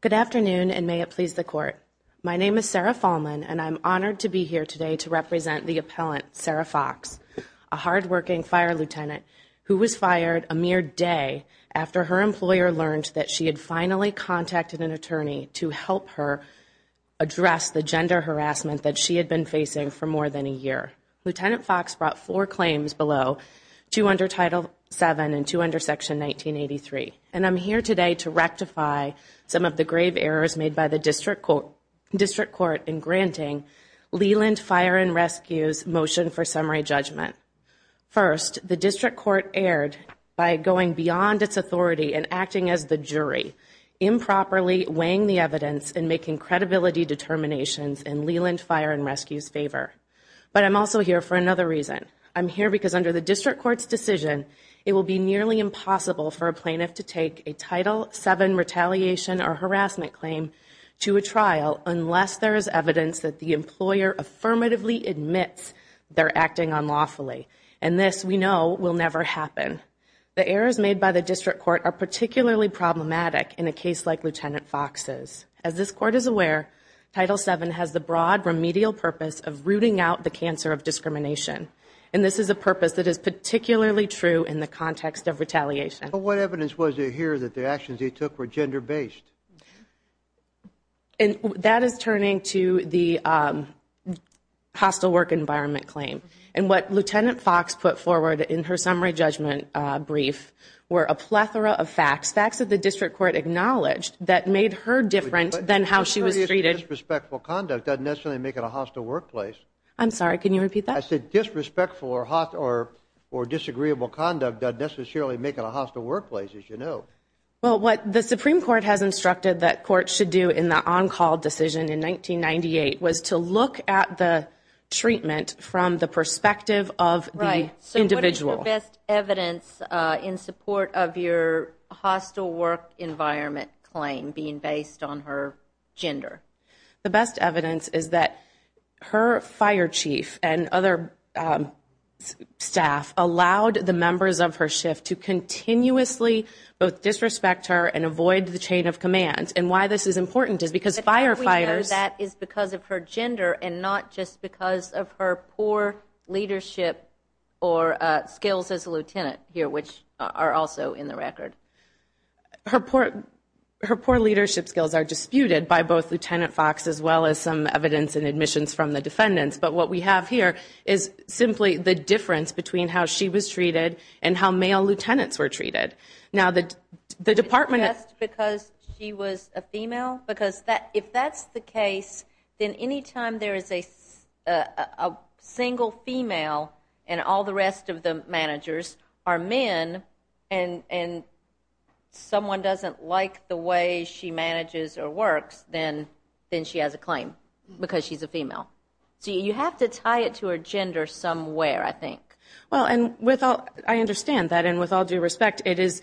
Good afternoon and may it please the court. My name is Sarah Fahlman and I'm honored to be here today to represent the appellant, Sarah Fox, a hard-working fire lieutenant who was fired a mere day after her employer learned that she had finally contacted an attorney to help her address the gender harassment that she had been facing for more than a year. Lieutenant Fox brought four claims below, two under title 7 and two under section 1983, and I'm here today to rectify some of the grave errors made by the district court in granting Leland Fire and Rescue's motion for summary judgment. First, the district court erred by going beyond its authority and acting as the jury, improperly weighing the evidence and making credibility determinations in Leland Fire and Rescue's favor. But I'm also here for another reason. I'm here because under the district court's decision, it will be nearly impossible for a plaintiff to take a title 7 retaliation or harassment claim to a trial unless there is evidence that the employer affirmatively admits they're acting unlawfully, and this, we know, will never happen. The errors made by the district court are particularly problematic in a case like Lieutenant Fox's. As this court is aware, title 7 has the broad remedial purpose of rooting out the cancer of discrimination, and this is a purpose that is particularly true in the context of retaliation. But what evidence was there here that the actions he took were gender-based? And that is turning to the hostile work environment claim, and what Lieutenant Fox put forward in her summary judgment brief were a plethora of facts, facts that the district court acknowledged that made her different than how she was treated. Disrespectful conduct doesn't necessarily make it a hostile workplace. I'm sorry, can you repeat that? I said disrespectful or hot or or disagreeable conduct doesn't necessarily make it a hostile workplace, as you know. Well, what the Supreme Court has instructed that courts should do in the on-call decision in 1998 was to look at the treatment from the perspective of the individual. So what is the best evidence in support of your hostile work environment claim being based on her gender? The best evidence is that her fire chief and other staff allowed the members of her shift to continuously both disrespect her and avoid the chain of command. And why this is important is because firefighters... But how do we know that is because of her gender and not just because of her poor leadership or skills as a lieutenant here, which are also in the record? Her poor leadership skills are disputed by both Lieutenant Fox as well as some evidence and admissions from the defendants. But what we have here is simply the difference between how she was treated and how male lieutenants were treated. Now that the department... Just because she was a female? Because if that's the case, then anytime there is a single female and all the rest of the managers are men and someone doesn't like the way she manages or works, then she has a claim because she's a female. So you have to tie it to her gender somewhere, I think. Well, I understand that and with all due respect, it is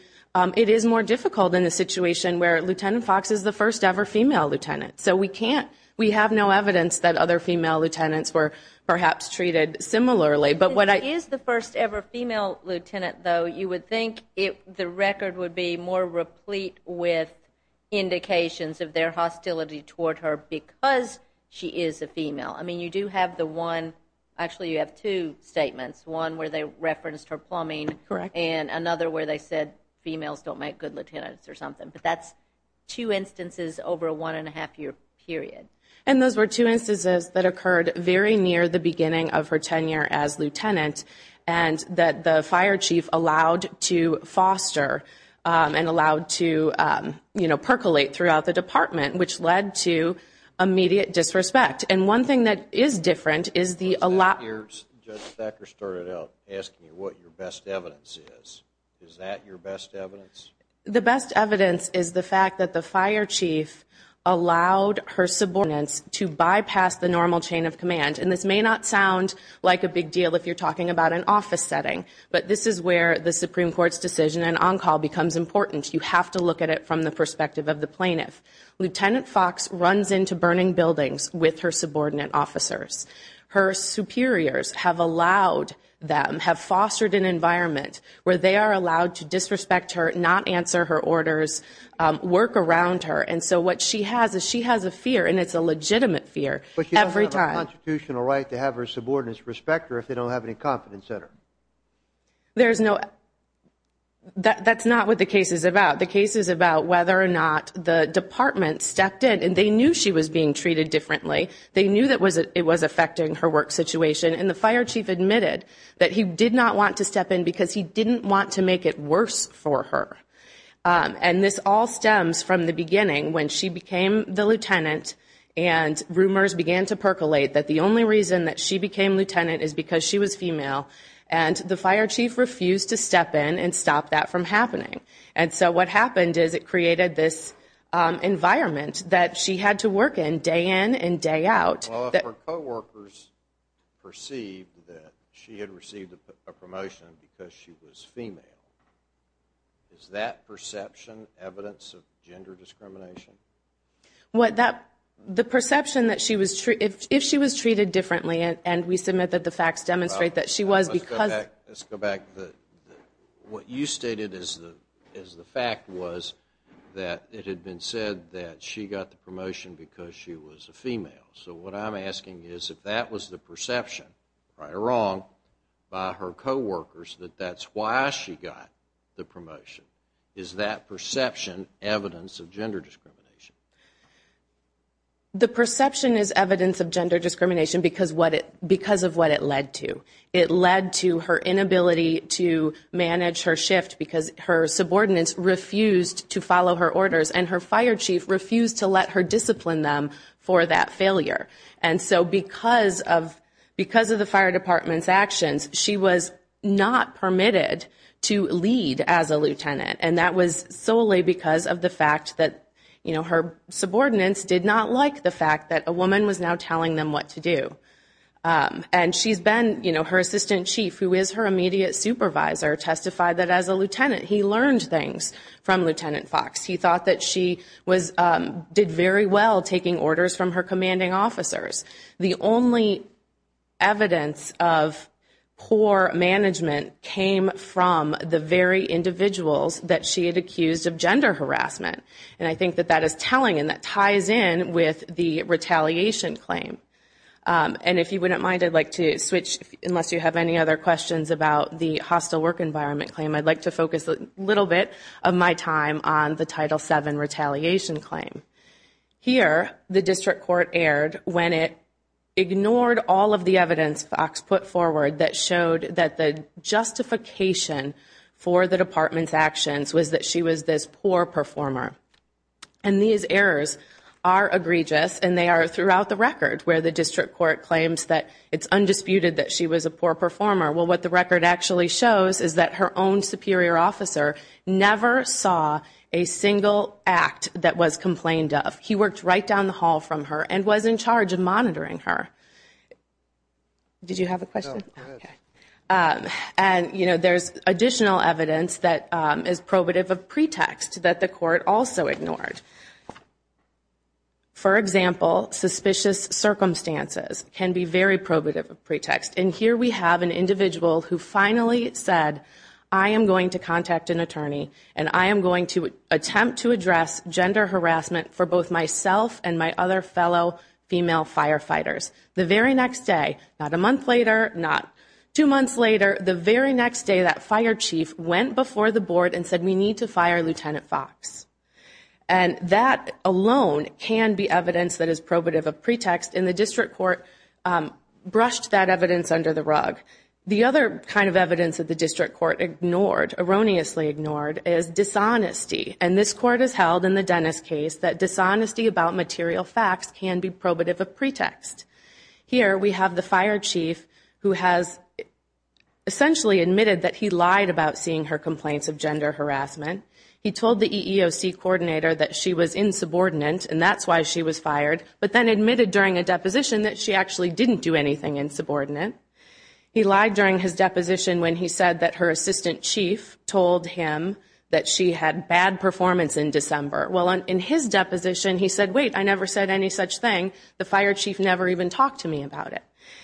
more difficult in a situation where Lieutenant Fox is the first-ever female lieutenant. So we have no evidence that other female lieutenants were perhaps treated similarly. But when she is the first-ever female lieutenant, though, you would think the record would be more replete with indications of their hostility toward her because she is a female. I mean, you do have the one... Actually, you have two statements. One where they referenced her plumbing and another where they said females don't make good lieutenants or something. But that's two instances over a one-and-a-half-year period. And those were two instances that occurred very near the beginning of her tenure as lieutenant and that the fire chief allowed to foster and allowed to, you know, percolate throughout the department, which led to immediate disrespect. And one thing that is different is the... Judge Becker started out asking you what your best evidence is. Is that your best evidence? The best evidence is the fact that the fire chief allowed her subordinates to bypass the normal chain of command. And this may not sound like a big deal if you're talking about an office setting, but this is where the Supreme Court's decision and on-call becomes important. You have to look at it from the perspective of the plaintiff. Lieutenant Fox runs into burning buildings with her subordinate officers. Her superiors have allowed them, have fostered an environment where they are allowed to disrespect her, not answer her orders, work around her. And so what she has is she has a fear and it's a legitimate fear every time. But she doesn't have a constitutional right to have her subordinates respect her if they don't have any confidence in her. There's no... That's not what the case is about. The case is about whether or not the department stepped in and they knew she was being treated differently. They knew that it was affecting her work situation. And the fire chief admitted that he did not want to step in because he didn't want to make it worse for her. And this all stems from the beginning when she became the lieutenant and rumors began to percolate that the only reason that she became lieutenant is because she was female. And the fire chief refused to step in and stop that from happening. And so what happened is it created this environment that she had to work in day in and day out. Well, if her co-workers perceived that she had received a promotion because she was female, is that perception evidence of gender discrimination? What that... The perception that she was... If she was treated differently and we submit that the facts demonstrate that she was because... Let's go back. Let's go back. What you stated as the fact was that it had been said that she got the promotion because she was a female. So what I'm asking is if that was the perception, right or wrong, by her co-workers that that's why she got the promotion. Is that perception evidence of gender discrimination? The perception is evidence of gender discrimination because of what it led to. It led to her inability to manage her shift because her subordinates refused to follow her orders and her fire chief refused to let her discipline them for that failure. And so because of the fire department's actions, she was not permitted to lead as a lieutenant. And that was solely because of the fact that her subordinates did not like the fact that a woman was now telling them what to do. And she's been... Her assistant chief, who is her immediate supervisor, testified that as a lieutenant he learned things from Lieutenant Fox. He thought that she did very well taking orders from her management came from the very individuals that she had accused of gender harassment. And I think that that is telling and that ties in with the retaliation claim. And if you wouldn't mind, I'd like to switch, unless you have any other questions about the hostile work environment claim, I'd like to focus a little bit of my time on the Title VII retaliation claim. Here, the district court erred when it ignored all of the evidence Fox put forward that showed that the justification for the department's actions was that she was this poor performer. And these errors are egregious and they are throughout the record, where the district court claims that it's undisputed that she was a poor performer. Well, what the record actually shows is that her own superior officer never saw a single act that was complained of. He worked right down the hall from her and was in charge of monitoring her. Did you have a question? No, go ahead. And there's additional evidence that is probative of pretext that the court also ignored. For example, suspicious circumstances can be very probative of pretext. And here we have an individual who finally said, I am going to contact an attorney and I am going to attempt to address gender harassment for both myself and my other fellow female firefighters. The very next day, not a month later, two months later, the very next day, that fire chief went before the board and said, we need to fire Lieutenant Fox. And that alone can be evidence that is probative of pretext. And the district court brushed that evidence under the rug. The other kind of evidence that the district court ignored, erroneously ignored, is dishonesty. And this court has held in the Dennis case that dishonesty about material facts can be probative of pretext. Here we have the fire chief who has essentially admitted that he lied about seeing her complaints of gender harassment. He told the EEOC coordinator that she was insubordinate and that's why she was fired, but then admitted during a deposition that she actually didn't do anything insubordinate. He lied during his deposition when he said that her assistant chief told him that she had bad performance in December. Well, in his deposition he said, wait, I never even talked to me about it.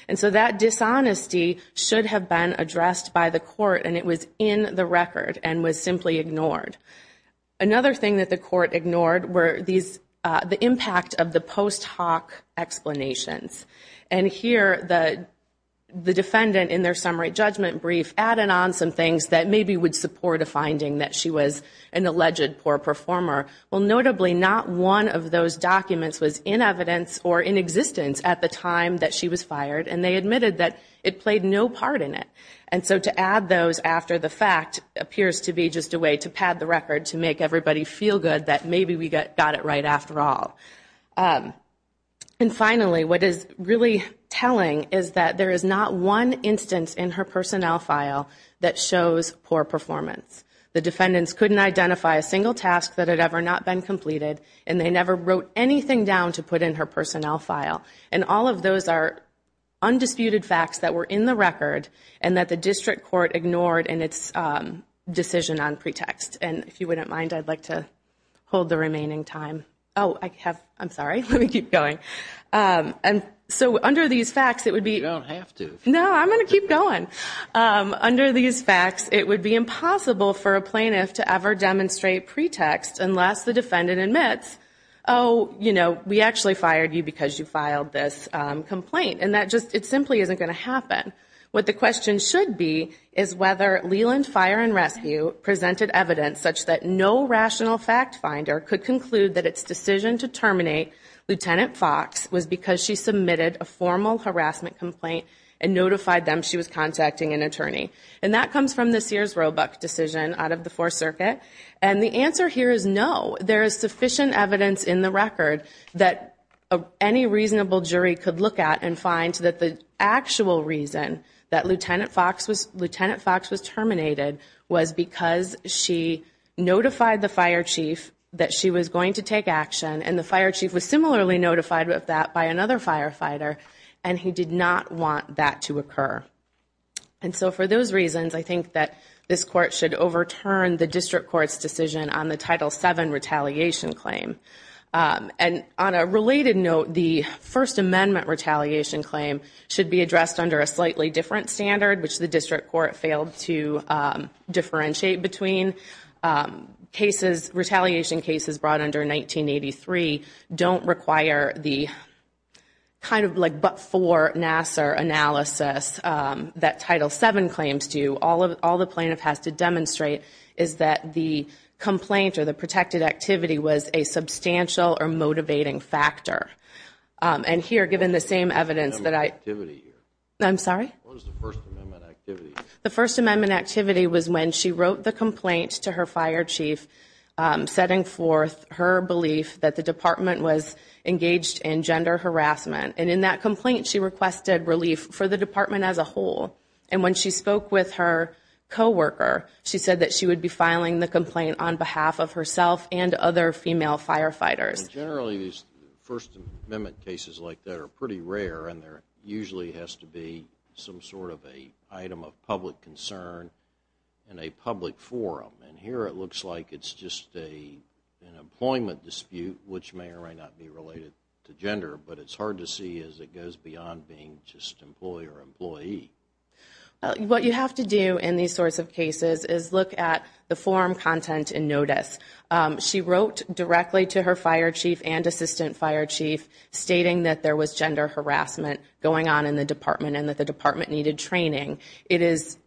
And so that dishonesty should have been addressed by the court and it was in the record and was simply ignored. Another thing that the court ignored were the impact of the post hoc explanations. And here the defendant in their summary judgment brief added on some things that maybe would support a finding that she was an alleged poor performer. Well, notably not one of those documents was in evidence or in evidence at the time that she was fired and they admitted that it played no part in it. And so to add those after the fact appears to be just a way to pad the record to make everybody feel good that maybe we got it right after all. And finally, what is really telling is that there is not one instance in her personnel file that shows poor performance. The defendants couldn't identify a single task that had ever not been completed and they never wrote anything down to put in her personnel file. And all of those are undisputed facts that were in the record and that the district court ignored in its decision on pretext. And if you wouldn't mind, I'd like to hold the remaining time. Oh, I have, I'm sorry, let me keep going. And so under these facts, it would be. You don't have to. No, I'm going to keep going. Under these facts, it would be impossible for a defendant to have actually fired you because you filed this complaint. And that just, it simply isn't going to happen. What the question should be is whether Leland Fire and Rescue presented evidence such that no rational fact finder could conclude that its decision to terminate Lieutenant Fox was because she submitted a formal harassment complaint and notified them she was contacting an attorney. And that any reasonable jury could look at and find that the actual reason that Lieutenant Fox was terminated was because she notified the fire chief that she was going to take action. And the fire chief was similarly notified of that by another firefighter and he did not want that to occur. And so for those reasons, I think that this court should overturn the district court's decision on the Title VII retaliation claim. And on a related note, the First Amendment retaliation claim should be addressed under a slightly different standard, which the district court failed to differentiate between cases. Retaliation cases brought under 1983 don't require the kind of like, but for Nassar analysis that Title VII claims do, all the plaintiff has to demonstrate is that the complaint or the protected activity was a substantial or motivating factor. And here, given the same evidence that I, I'm sorry? The First Amendment activity was when she wrote the complaint to her fire chief setting forth her belief that the department was engaged in gender harassment. And in that complaint, she requested relief for the department as a whole. And when she spoke with her coworker, she said that she would be filing the complaint on behalf of herself and other female firefighters. Generally, these First Amendment cases like that are pretty rare and there usually has to be some sort of a item of public concern and a public forum. And here it looks like it's just a, an employment dispute, which may or may not be related to gender, but it's hard to see as it goes beyond being just employee or employee. What you have to do in these sorts of cases is look at the forum content and notice. She wrote directly to her fire chief and assistant fire chief stating that there was gender harassment going on in the department and that the department needed training. It is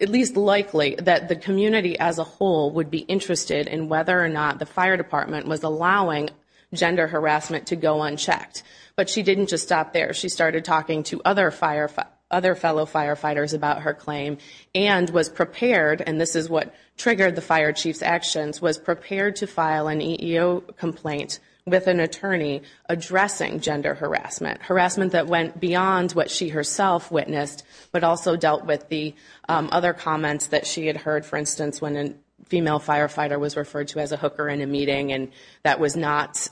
at least likely that the community as a whole would be interested in whether or not the fire department was allowing gender harassment to go unchecked. But she didn't just stop there. She started talking to other fellow firefighters about her claim and was prepared, and this is what triggered the fire chief's actions, was prepared to file an EEO complaint with an attorney addressing gender harassment. Harassment that went beyond what she herself witnessed, but also dealt with the other comments that she had heard. For instance, when a female firefighter was referred to as a hooker in a meeting and that was not,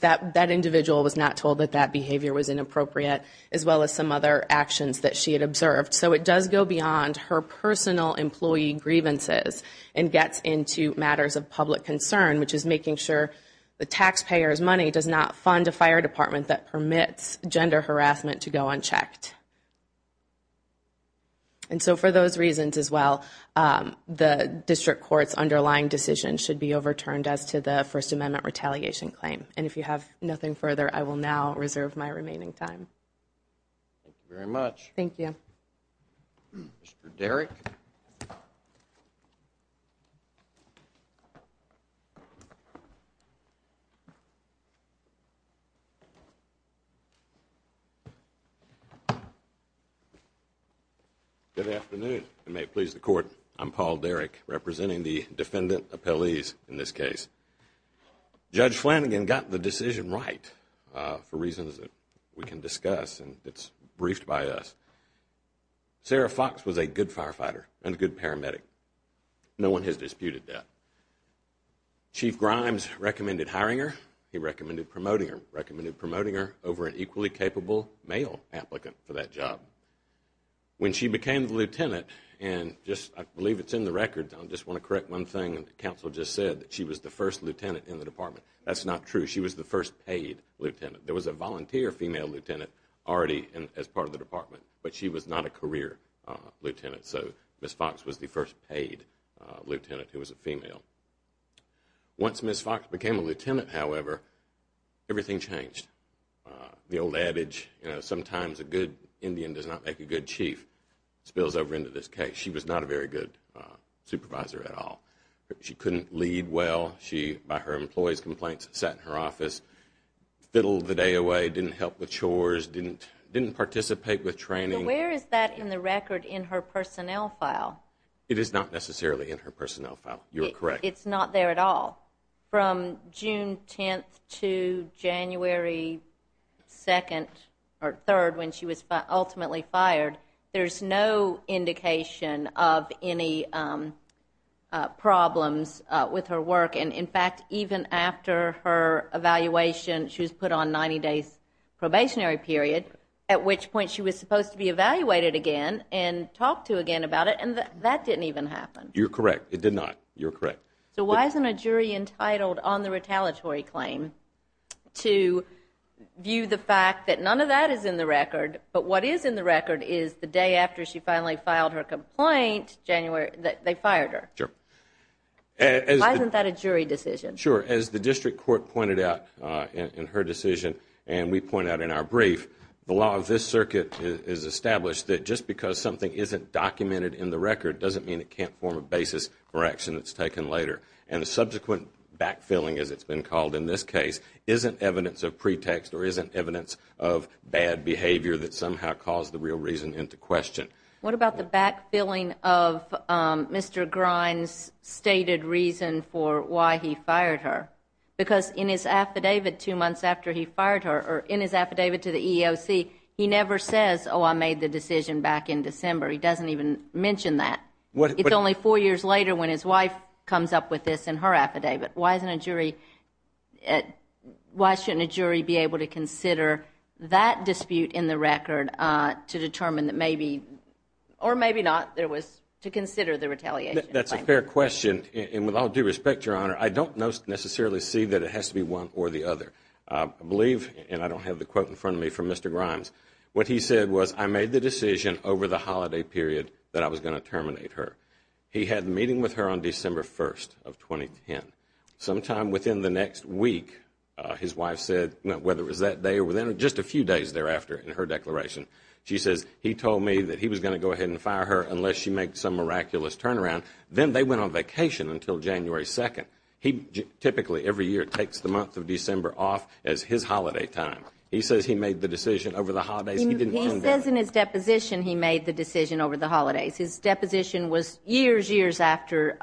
that individual was not told that that behavior was inappropriate, as well as some other actions that she had observed. So it does go beyond her personal employee grievances and gets into matters of public concern, which is making sure the taxpayer's money does not fund a fire department that permits gender harassment to go unchecked. And so for those reasons as well, the district court's underlying decision should be overturned as to the First Amendment retaliation claim. And if you have nothing further, I will now reserve my remaining time. Thank you very much. Thank you. Mr. Derrick. Good afternoon. It may please the court. I'm Paul Derrick, representing the defendant appellees in this case. Judge Flanagan got the decision right for reasons that we can discuss and it's briefed by us. Sarah Fox was a good firefighter and a good paramedic. No one has disputed that. Chief Grimes recommended hiring her. He recommended promoting her. Recommended promoting her over an equally capable male applicant for that job. When she became the lieutenant, and I believe it's in the records, I just want to correct one thing that counsel just said, that she was the first lieutenant in the department. That's not true. She was the first paid lieutenant. There was a volunteer female lieutenant already as part of the department, but she was not a career lieutenant. So Ms. Fox was the first paid lieutenant who was a female. Once Ms. Fox became a lieutenant, however, everything changed. The old adage, you know, sometimes a good Indian does not make a good chief spills over into this case. She was not a very good supervisor at all. She couldn't lead well. By her employee's complaints, sat in her office, fiddled the day away, didn't help with chores, didn't participate with training. Where is that in the record in her personnel file? It is not necessarily in her personnel file. You are correct. It's not there at all. From June 10th to January 2nd or 3rd, when she was ultimately fired, there's no indication of any problems with her work. And in fact, even after her evaluation, she was put on 90 days probationary period, at which point she was supposed to be evaluated again and talked to again about it. And that didn't even happen. You're correct. It did not. You're correct. So why isn't a jury entitled on the retaliatory claim to view the fact that none of that is in the record, but what is in the record is the day after she finally filed her complaint, they fired her? Sure. Why isn't that a jury decision? Sure. As the district court pointed out in her decision, and we point out in our brief, the law of this circuit is established that just because something isn't documented in the record doesn't mean it can't form a basis for action that's taken later. And the subsequent backfilling, as it's been called in this case, isn't evidence of pretext or isn't evidence of bad behavior that somehow caused the real reason into question. What about the backfilling of Mr. Grine's stated reason for why he fired her? Because in his affidavit two months after he fired her, or in his affidavit to the record, he didn't mention that. It's only four years later when his wife comes up with this in her affidavit. Why shouldn't a jury be able to consider that dispute in the record to determine that maybe, or maybe not, to consider the retaliation claim? That's a fair question. And with all due respect, Your Honor, I don't necessarily see that it has to be one or the other. I believe, and I don't have the quote in front of me from Mr. Grimes, what he said was, I made the decision over the holiday period that I was going to terminate her. He had a meeting with her on December 1st of 2010. Sometime within the next week, his wife said, whether it was that day or within just a few days thereafter in her declaration, she says, he told me that he was going to go ahead and fire her unless she makes some miraculous turnaround. Then they went on vacation until January 2nd. He says in his deposition he made the decision over the holidays. His deposition was years, years after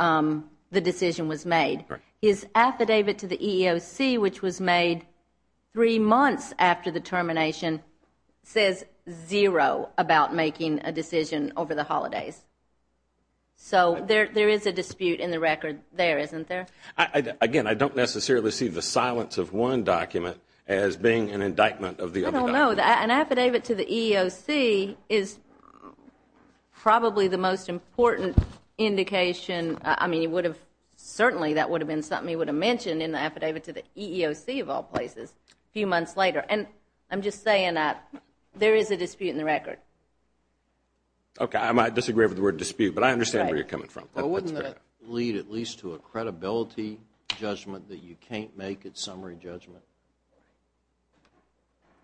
the decision was made. His affidavit to the EEOC, which was made three months after the termination, says zero about making a decision over the holidays. So there is a dispute in the record there, isn't there? Again, I don't necessarily see the silence of one document as being an indictment of the other document. I don't know. An affidavit to the EEOC is probably the most important indication. Certainly that would have been something he would have mentioned in the affidavit to the EEOC of all places a few months later. I am just saying that there is a dispute in the record. I disagree with the word dispute, but I understand where you are coming from. Wouldn't that lead at least to a credibility judgment that you can't make a summary judgment?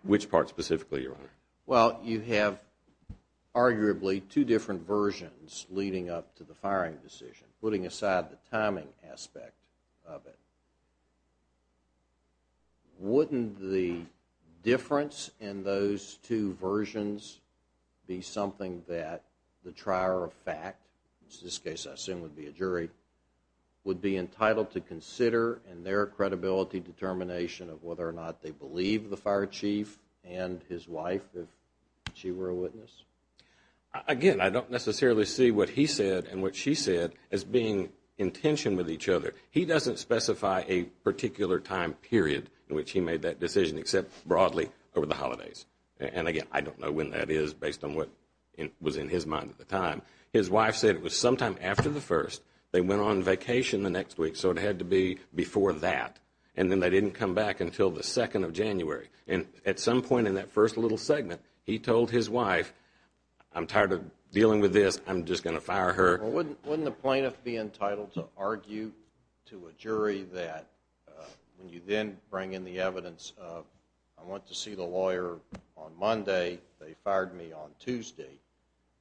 Which part specifically, Your Honor? You have arguably two different versions leading up to the firing decision, putting aside the timing aspect of it. Wouldn't the difference in those two versions be something that the trier of fact, which in this case I assume would be a jury, would be entitled to consider in their credibility determination of whether or not they believe the fire chief and his wife, if she were a witness? Again, I don't necessarily see what he said and what she said as being in tension with each other. He doesn't specify a particular time period in which he made that decision, except broadly over the holidays. Again, I don't know when that is based on what was in his mind at the time. His wife said it was sometime after the 1st. They went on vacation the next week, so it had to be before that. Then they didn't come back until the 2nd of January. At some point in that first little segment, he told his wife, I am tired of dealing with this. I am just going to fire her. Wouldn't the plaintiff be entitled to argue to a jury that when you then bring in the evidence of, I went to see the lawyer on Monday, they fired me on Tuesday,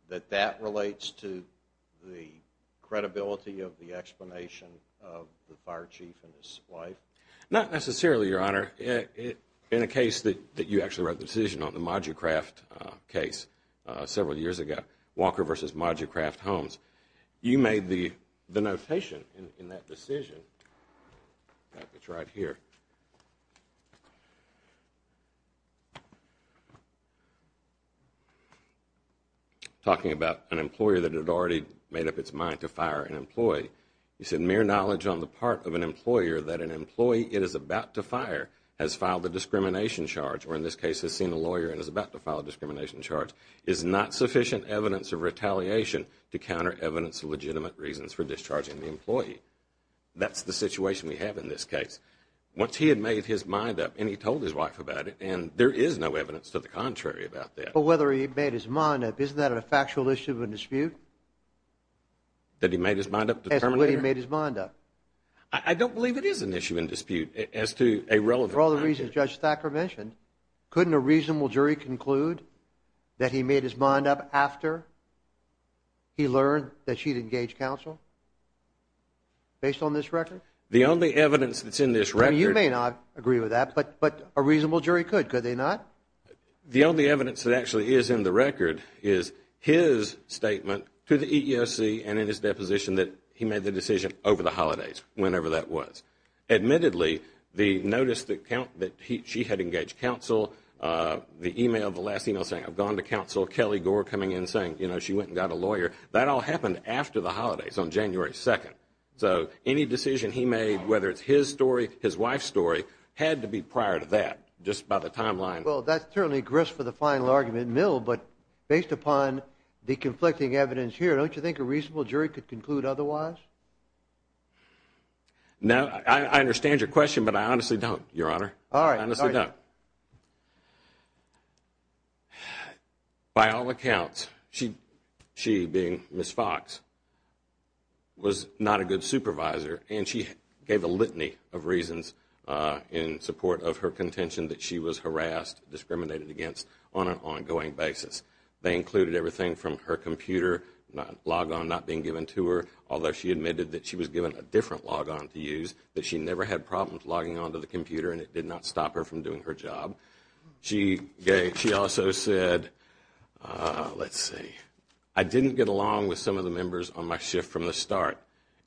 that that relates to the credibility of the explanation of the fire chief and his wife? Not necessarily, Your Honor. Your Honor, in a case that you actually wrote the decision on, the Moducraft case several years ago, Walker v. Moducraft Homes, you made the notation in that decision. It is right here. Talking about an employer that had already made up its mind to fire an employee. You said mere knowledge on the part of an employer that an employee it is about to fire has filed a discrimination charge, or in this case has seen a lawyer and is about to file a discrimination charge, is not sufficient evidence of retaliation to counter evidence of legitimate reasons for discharging the employee. That's the situation we have in this case. Once he had made his mind up, and he told his wife about it, and there is no evidence to the contrary about that. But whether he made his mind up, isn't that a factual issue of a dispute? That he made his mind up? I don't believe it is an issue in dispute as to a relevant matter. For all the reasons Judge Thacker mentioned, couldn't a reasonable jury conclude that he made his mind up after he learned that she had engaged counsel based on this record? The only evidence that's in this record... that actually is in the record is his statement to the EEOC and in his deposition that he made the decision over the holidays, whenever that was. Admittedly, the notice that she had engaged counsel, the last email saying, I've gone to counsel, Kelly Gore coming in saying she went and got a lawyer, that all happened after the holidays on January 2nd. So any decision he made, whether it's his story, his wife's story, had to be prior to that. Just by the timeline. Well, that's certainly grist for the final argument, but based upon the conflicting evidence here, don't you think a reasonable jury could conclude otherwise? I understand your question, but I honestly don't, Your Honor. By all accounts, she, being Ms. Fox, was not a good supervisor, and she gave a litany of reasons in support of her contention that she was harassed, discriminated against on an ongoing basis. They included everything from her computer logon not being given to her, although she admitted that she was given a different logon to use, that she never had problems logging on to the computer and it did not stop her from doing her job. She also said, let's see, I didn't get along with some of the members on my shift from the start.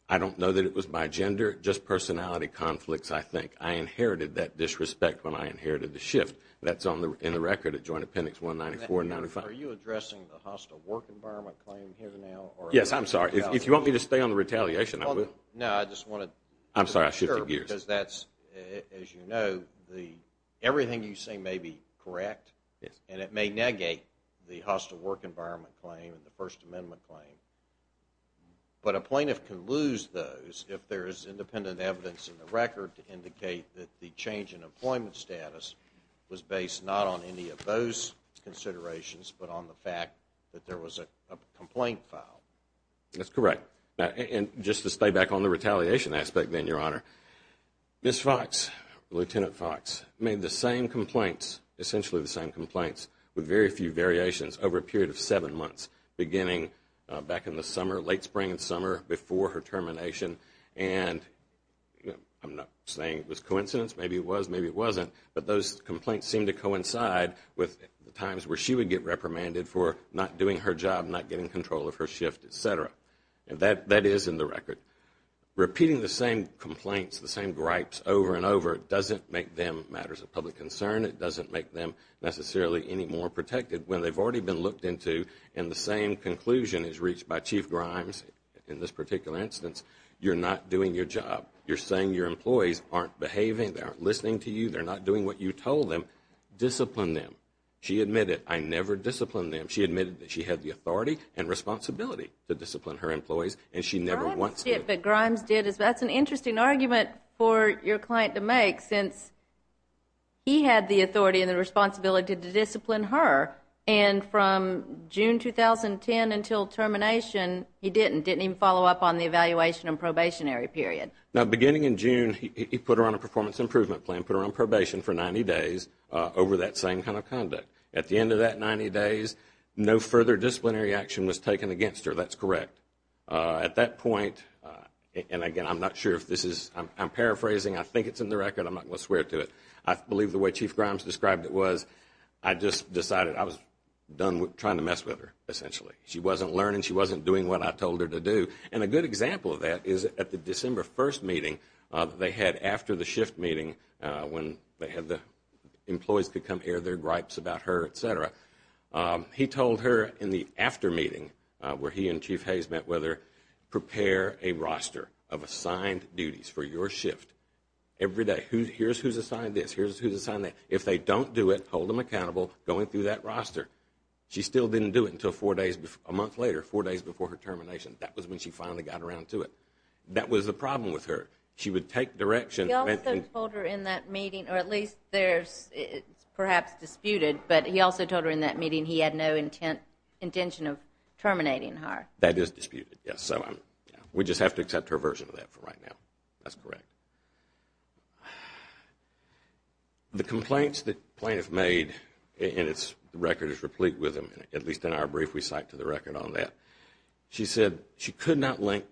I don't know that it was my gender, just personality conflicts, I think. I inherited that disrespect when I inherited the shift. That's in the record at Joint Appendix 194 and 95. Are you addressing the hostile work environment claim here now? Yes, I'm sorry. If you want me to stay on the retaliation, I will. No, I just wanted to be sure. I'm sorry, I shifted gears. Because that's, as you know, everything you say may be correct, and it may negate the hostile work environment claim and the First Amendment claim. But a plaintiff can lose those if there is independent evidence in the record to indicate that the change in employment status was based not on any of those considerations, but on the fact that there was a complaint filed. That's correct. And just to stay back on the retaliation aspect then, Your Honor, Ms. Fox, Lieutenant Fox, made the same complaints, essentially the same complaints, with very few variations over a period of seven months, beginning back in the summer, late spring and summer, before her termination. And I'm not saying it was coincidence. Maybe it was, maybe it wasn't. But those complaints seemed to coincide with the times where she would get reprimanded for not doing her job, not getting control of her shift, et cetera. That is in the record. Repeating the same complaints, the same gripes over and over, doesn't make them matters of public concern. It doesn't make them necessarily any more protected. When they've already been looked into and the same conclusion is reached by Chief Grimes in this particular instance, you're not doing your job. You're saying your employees aren't behaving, they aren't listening to you, they're not doing what you told them. Discipline them. She admitted, I never disciplined them. She admitted that she had the authority and responsibility to discipline her employees and she never once did. What Grimes did is that's an interesting argument for your client to make since he had the authority and the responsibility to discipline her. And from June 2010 until termination, he didn't. He didn't even follow up on the evaluation and probationary period. Now, beginning in June, he put her on a performance improvement plan, put her on probation for 90 days over that same kind of conduct. At the end of that 90 days, no further disciplinary action was taken against her. So that's correct. At that point, and again, I'm not sure if this is, I'm paraphrasing. I think it's in the record. I'm not going to swear to it. I believe the way Chief Grimes described it was I just decided I was trying to mess with her, essentially. She wasn't learning. She wasn't doing what I told her to do. And a good example of that is at the December 1st meeting they had after the shift meeting when they had the employees come air their gripes about her, et cetera. He told her in the after meeting where he and Chief Hayes met with her, prepare a roster of assigned duties for your shift every day. Here's who's assigned this. Here's who's assigned that. If they don't do it, hold them accountable going through that roster. She still didn't do it until a month later, four days before her termination. That was when she finally got around to it. That was the problem with her. She would take direction. He also told her in that meeting, or at least there's perhaps disputed, but he also told her in that meeting he had no intention of terminating her. That is disputed, yes. So we just have to accept her version of that for right now. That's correct. The complaints the plaintiff made, and the record is replete with them, at least in our brief we cite to the record on that. She said she could not link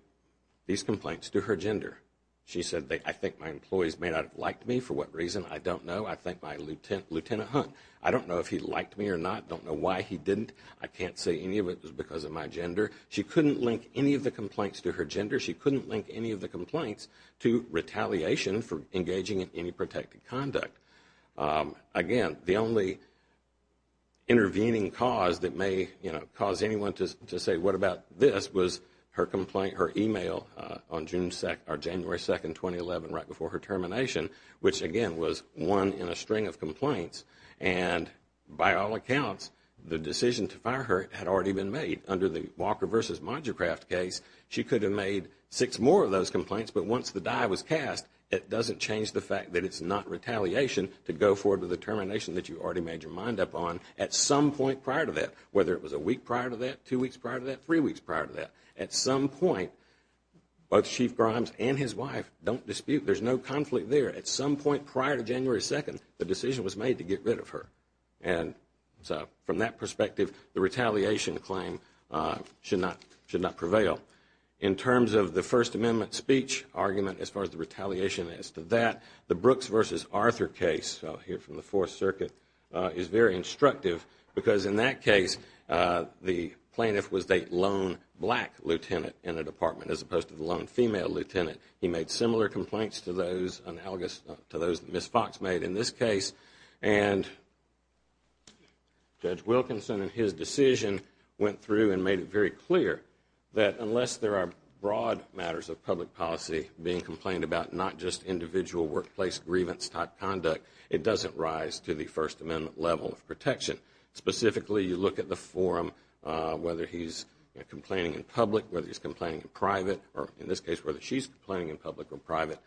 these complaints to her gender. She said, I think my employees may not have liked me. For what reason, I don't know. I thank my Lieutenant Hunt. I don't know if he liked me or not. I don't know why he didn't. I can't say any of it was because of my gender. She couldn't link any of the complaints to her gender. She couldn't link any of the complaints to retaliation for engaging in any protected conduct. Again, the only intervening cause that may cause anyone to say, what about this, was her email on January 2, 2011, right before her termination, which, again, was one in a string of complaints. And by all accounts, the decision to fire her had already been made. Under the Walker v. Mongercraft case, she could have made six more of those complaints, but once the die was cast, it doesn't change the fact that it's not retaliation to go forward with the termination that you already made your mind up on at some point prior to that, whether it was a week prior to that, two weeks prior to that, three weeks prior to that. At some point, both Chief Grimes and his wife don't dispute. There's no conflict there. At some point prior to January 2, the decision was made to get rid of her. And so from that perspective, the retaliation claim should not prevail. In terms of the First Amendment speech argument as far as the retaliation as to that, the Brooks v. Arthur case here from the Fourth Circuit is very instructive because in that case, the plaintiff was a lone black lieutenant in the department as opposed to the lone female lieutenant. He made similar complaints to those that Ms. Fox made in this case. And Judge Wilkinson in his decision went through and made it very clear that unless there are broad matters of public policy being complained about, not just individual workplace grievance-type conduct, it doesn't rise to the First Amendment level of protection. Specifically, you look at the forum, whether he's complaining in public, whether he's complaining in private, or in this case, whether she's complaining in public or private.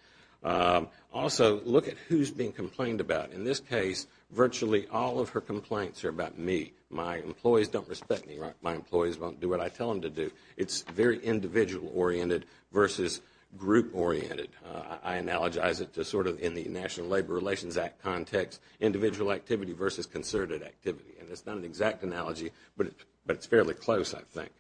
Also, look at who's being complained about. In this case, virtually all of her complaints are about me. My employees don't respect me. My employees won't do what I tell them to do. It's very individual-oriented versus group-oriented. I analogize it to sort of in the National Labor Relations Act context, individual activity versus concerted activity. And it's not an exact analogy, but it's fairly close, I think.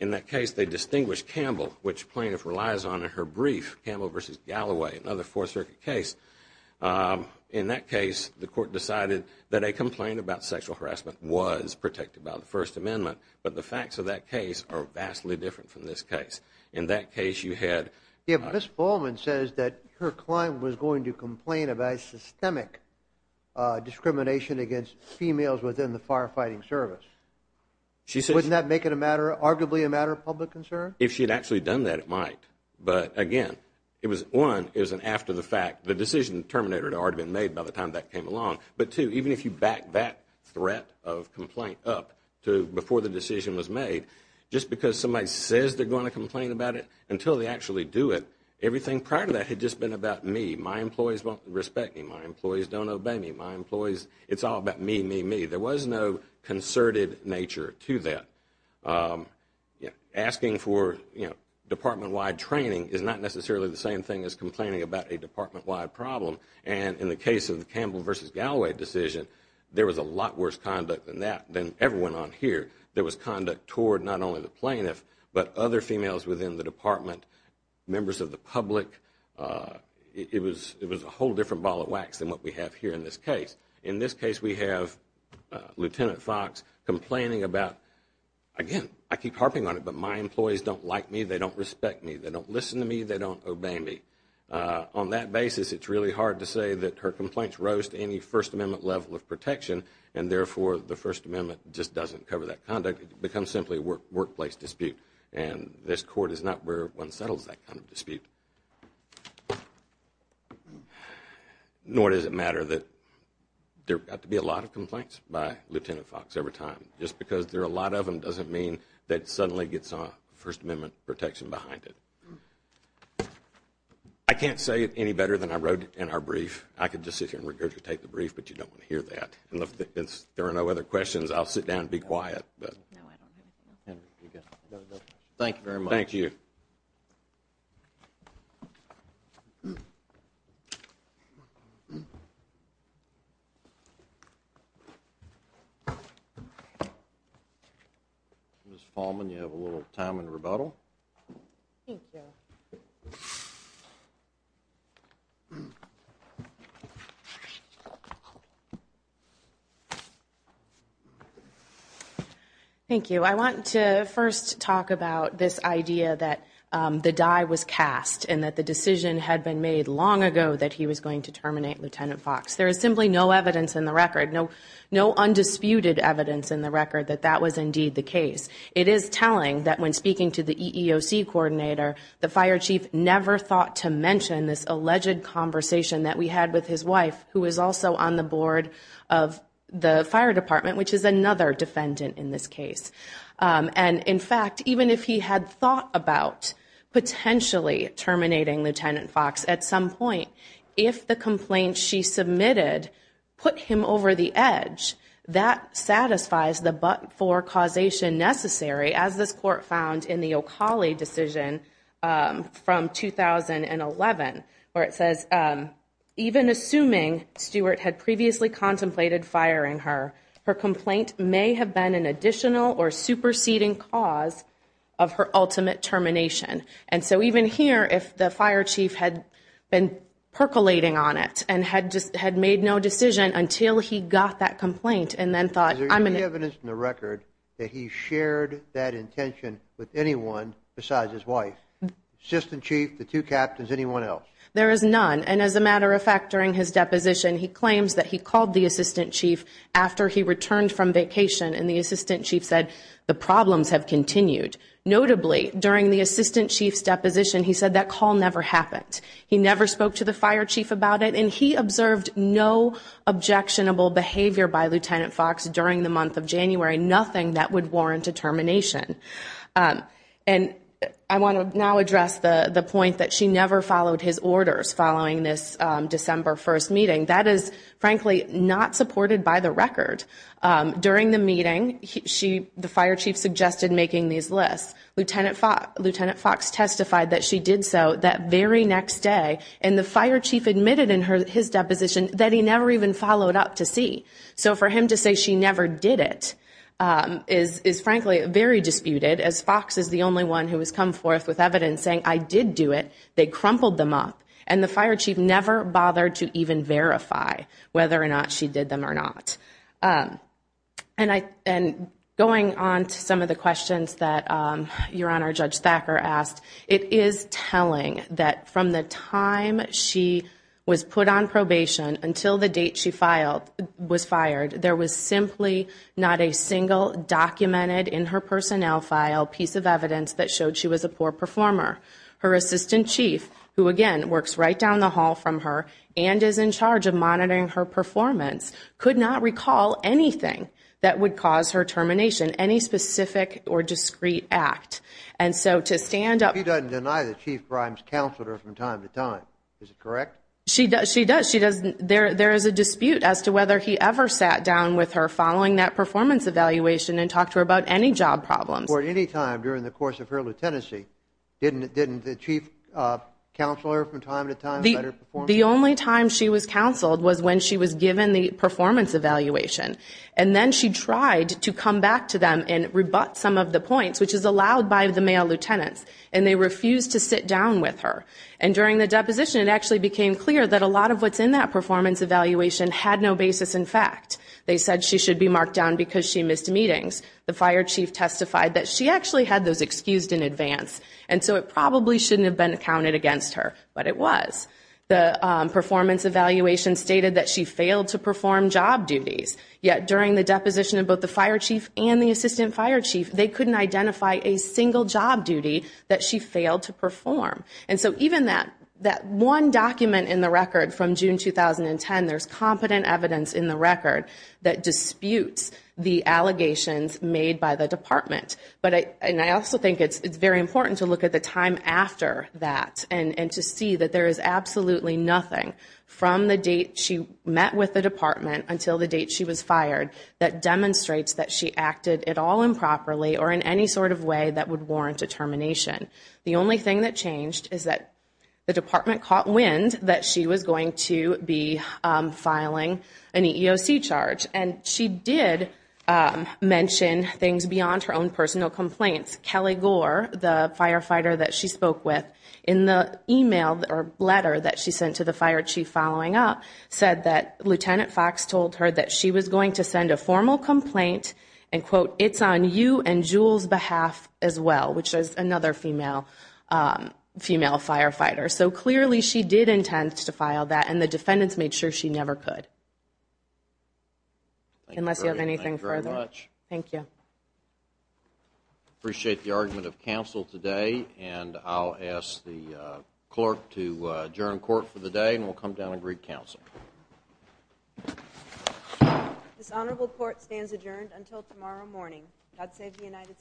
In that case, they distinguished Campbell, which plaintiff relies on in her brief, Campbell v. Galloway, another Fourth Circuit case. In that case, the court decided that a complaint about sexual harassment was protected by the First Amendment, but the facts of that case are vastly different from this case. In that case, you had- If Ms. Fulman says that her client was going to complain about systemic discrimination against females within the firefighting service, wouldn't that make it arguably a matter of public concern? If she had actually done that, it might. But again, one, it was an after the fact. The decision to terminate her had already been made by the time that came along. But two, even if you back that threat of complaint up before the decision was made, just because somebody says they're going to complain about it until they actually do it, everything prior to that had just been about me. My employees won't respect me. My employees don't obey me. My employees- It's all about me, me, me. There was no concerted nature to that. Asking for department-wide training is not necessarily the same thing as complaining about a department-wide problem. And in the case of the Campbell v. Galloway decision, there was a lot worse conduct than that, than everyone on here. There was conduct toward not only the plaintiff, but other females within the department, members of the public. It was a whole different ball of wax than what we have here in this case. In this case, we have Lieutenant Fox complaining about, again, I keep harping on it, but my employees don't like me. They don't respect me. They don't listen to me. They don't obey me. On that basis, it's really hard to say that her complaints rose to any First Amendment level of protection, and therefore the First Amendment just doesn't cover that conduct. It becomes simply a workplace dispute, and this Court is not where one settles that kind of dispute. Nor does it matter that there have got to be a lot of complaints by Lieutenant Fox every time. Just because there are a lot of them doesn't mean that it suddenly gets First Amendment protection behind it. I can't say it any better than I wrote in our brief. I could just sit here and regurgitate the brief, but you don't want to hear that. If there are no other questions, I'll sit down and be quiet. Thank you very much. Thank you. Ms. Fallman, you have a little time in rebuttal. Thank you. I want to first talk about this idea that the die was cast and that the decision had been made long ago that he was going to terminate Lieutenant Fox. There is simply no evidence in the record, no undisputed evidence in the record that that was indeed the case. It is telling that when speaking to the EEOC coordinator, the fire chief never thought to mention this alleged conversation that we had with his wife, who was also on the board of the fire department, which is another defendant in this case. In fact, even if he had thought about potentially terminating Lieutenant Fox at some point, if the complaint she submitted put him over the edge, that satisfies the but-for causation necessary, as this court found in the O'Cauley decision from 2011, where it says, even assuming Stewart had previously contemplated firing her, her complaint may have been an additional or superseding cause of her ultimate termination. And so even here, if the fire chief had been percolating on it and had just had made no decision until he got that complaint and then thought, I'm going to evidence in the record that he shared that intention with anyone besides his wife, assistant chief, the two captains, anyone else? There is none. And as a matter of fact, during his deposition, he claims that he called the assistant chief after he returned from vacation and the assistant chief said the problems have continued. Notably, during the assistant chief's deposition, he said that call never happened. He never spoke to the fire chief about it, and he observed no objectionable behavior by Lieutenant Fox during the month of January, nothing that would warrant a termination. And I want to now address the point that she never followed his orders following this December 1st meeting. That is frankly not supported by the record. During the meeting, the fire chief suggested making these lists. Lieutenant Fox testified that she did so that very next day, and the fire chief admitted in his deposition that he never even followed up to see. So for him to say she never did it is frankly very disputed, as Fox is the only one who has come forth with evidence saying, I did do it. They crumpled them up. And the fire chief never bothered to even verify whether or not she did them or not. And going on to some of the questions that Your Honor, Judge Thacker asked, it is telling that from the time she was put on probation until the date she was fired, there was simply not a single documented in her personnel file piece of evidence that showed she was a poor performer. Her assistant chief, who again works right down the hall from her and is in charge of monitoring her performance, could not recall anything that would cause her termination, any specific or discreet act. And so to stand up, he doesn't deny the chief crimes counselor from time to time. Is it correct? She does. She does. She doesn't there. There is a dispute as to whether he ever sat down with her following that performance evaluation and talk to her about any job problems or any time during the course of her lieutenancy. Didn't the chief counselor from time to time let her perform? The only time she was counseled was when she was given the performance evaluation. And then she tried to come back to them and rebut some of the points, which is allowed by the male lieutenants, and they refused to sit down with her. And during the deposition, it actually became clear that a lot of what's in that performance evaluation had no basis in fact. They said she should be marked down because she missed meetings. The fire chief testified that she actually had those excused in advance, and so it probably shouldn't have been accounted against her, but it was. The performance evaluation stated that she failed to perform job duties, yet during the deposition of both the fire chief and the assistant fire chief, they couldn't identify a single job duty that she failed to perform. And so even that one document in the record from June 2010, there's competent evidence in the record that disputes the allegations made by the department. And I also think it's very important to look at the time after that and to see that there is absolutely nothing from the date she met with the department until the date she was fired that demonstrates that she acted at all improperly or in any sort of way that would warrant a termination. The only thing that changed is that the department caught wind that she was going to be filing an EEOC charge. And she did mention things beyond her own personal complaints. Kelly Gore, the firefighter that she spoke with in the email or letter that she sent to the fire chief following up said that Lieutenant Fox told her that she was going to send a formal complaint and quote, it's on you and Jewel's behalf as well, which is another female, female firefighter. So clearly she did intend to file that and the defendants made sure she never could unless you have anything further. Thank you. Appreciate the argument of council today. And I'll ask the clerk to adjourn court for the day and we'll come down and greet council. This honorable court stands adjourned until tomorrow morning. God save the United States.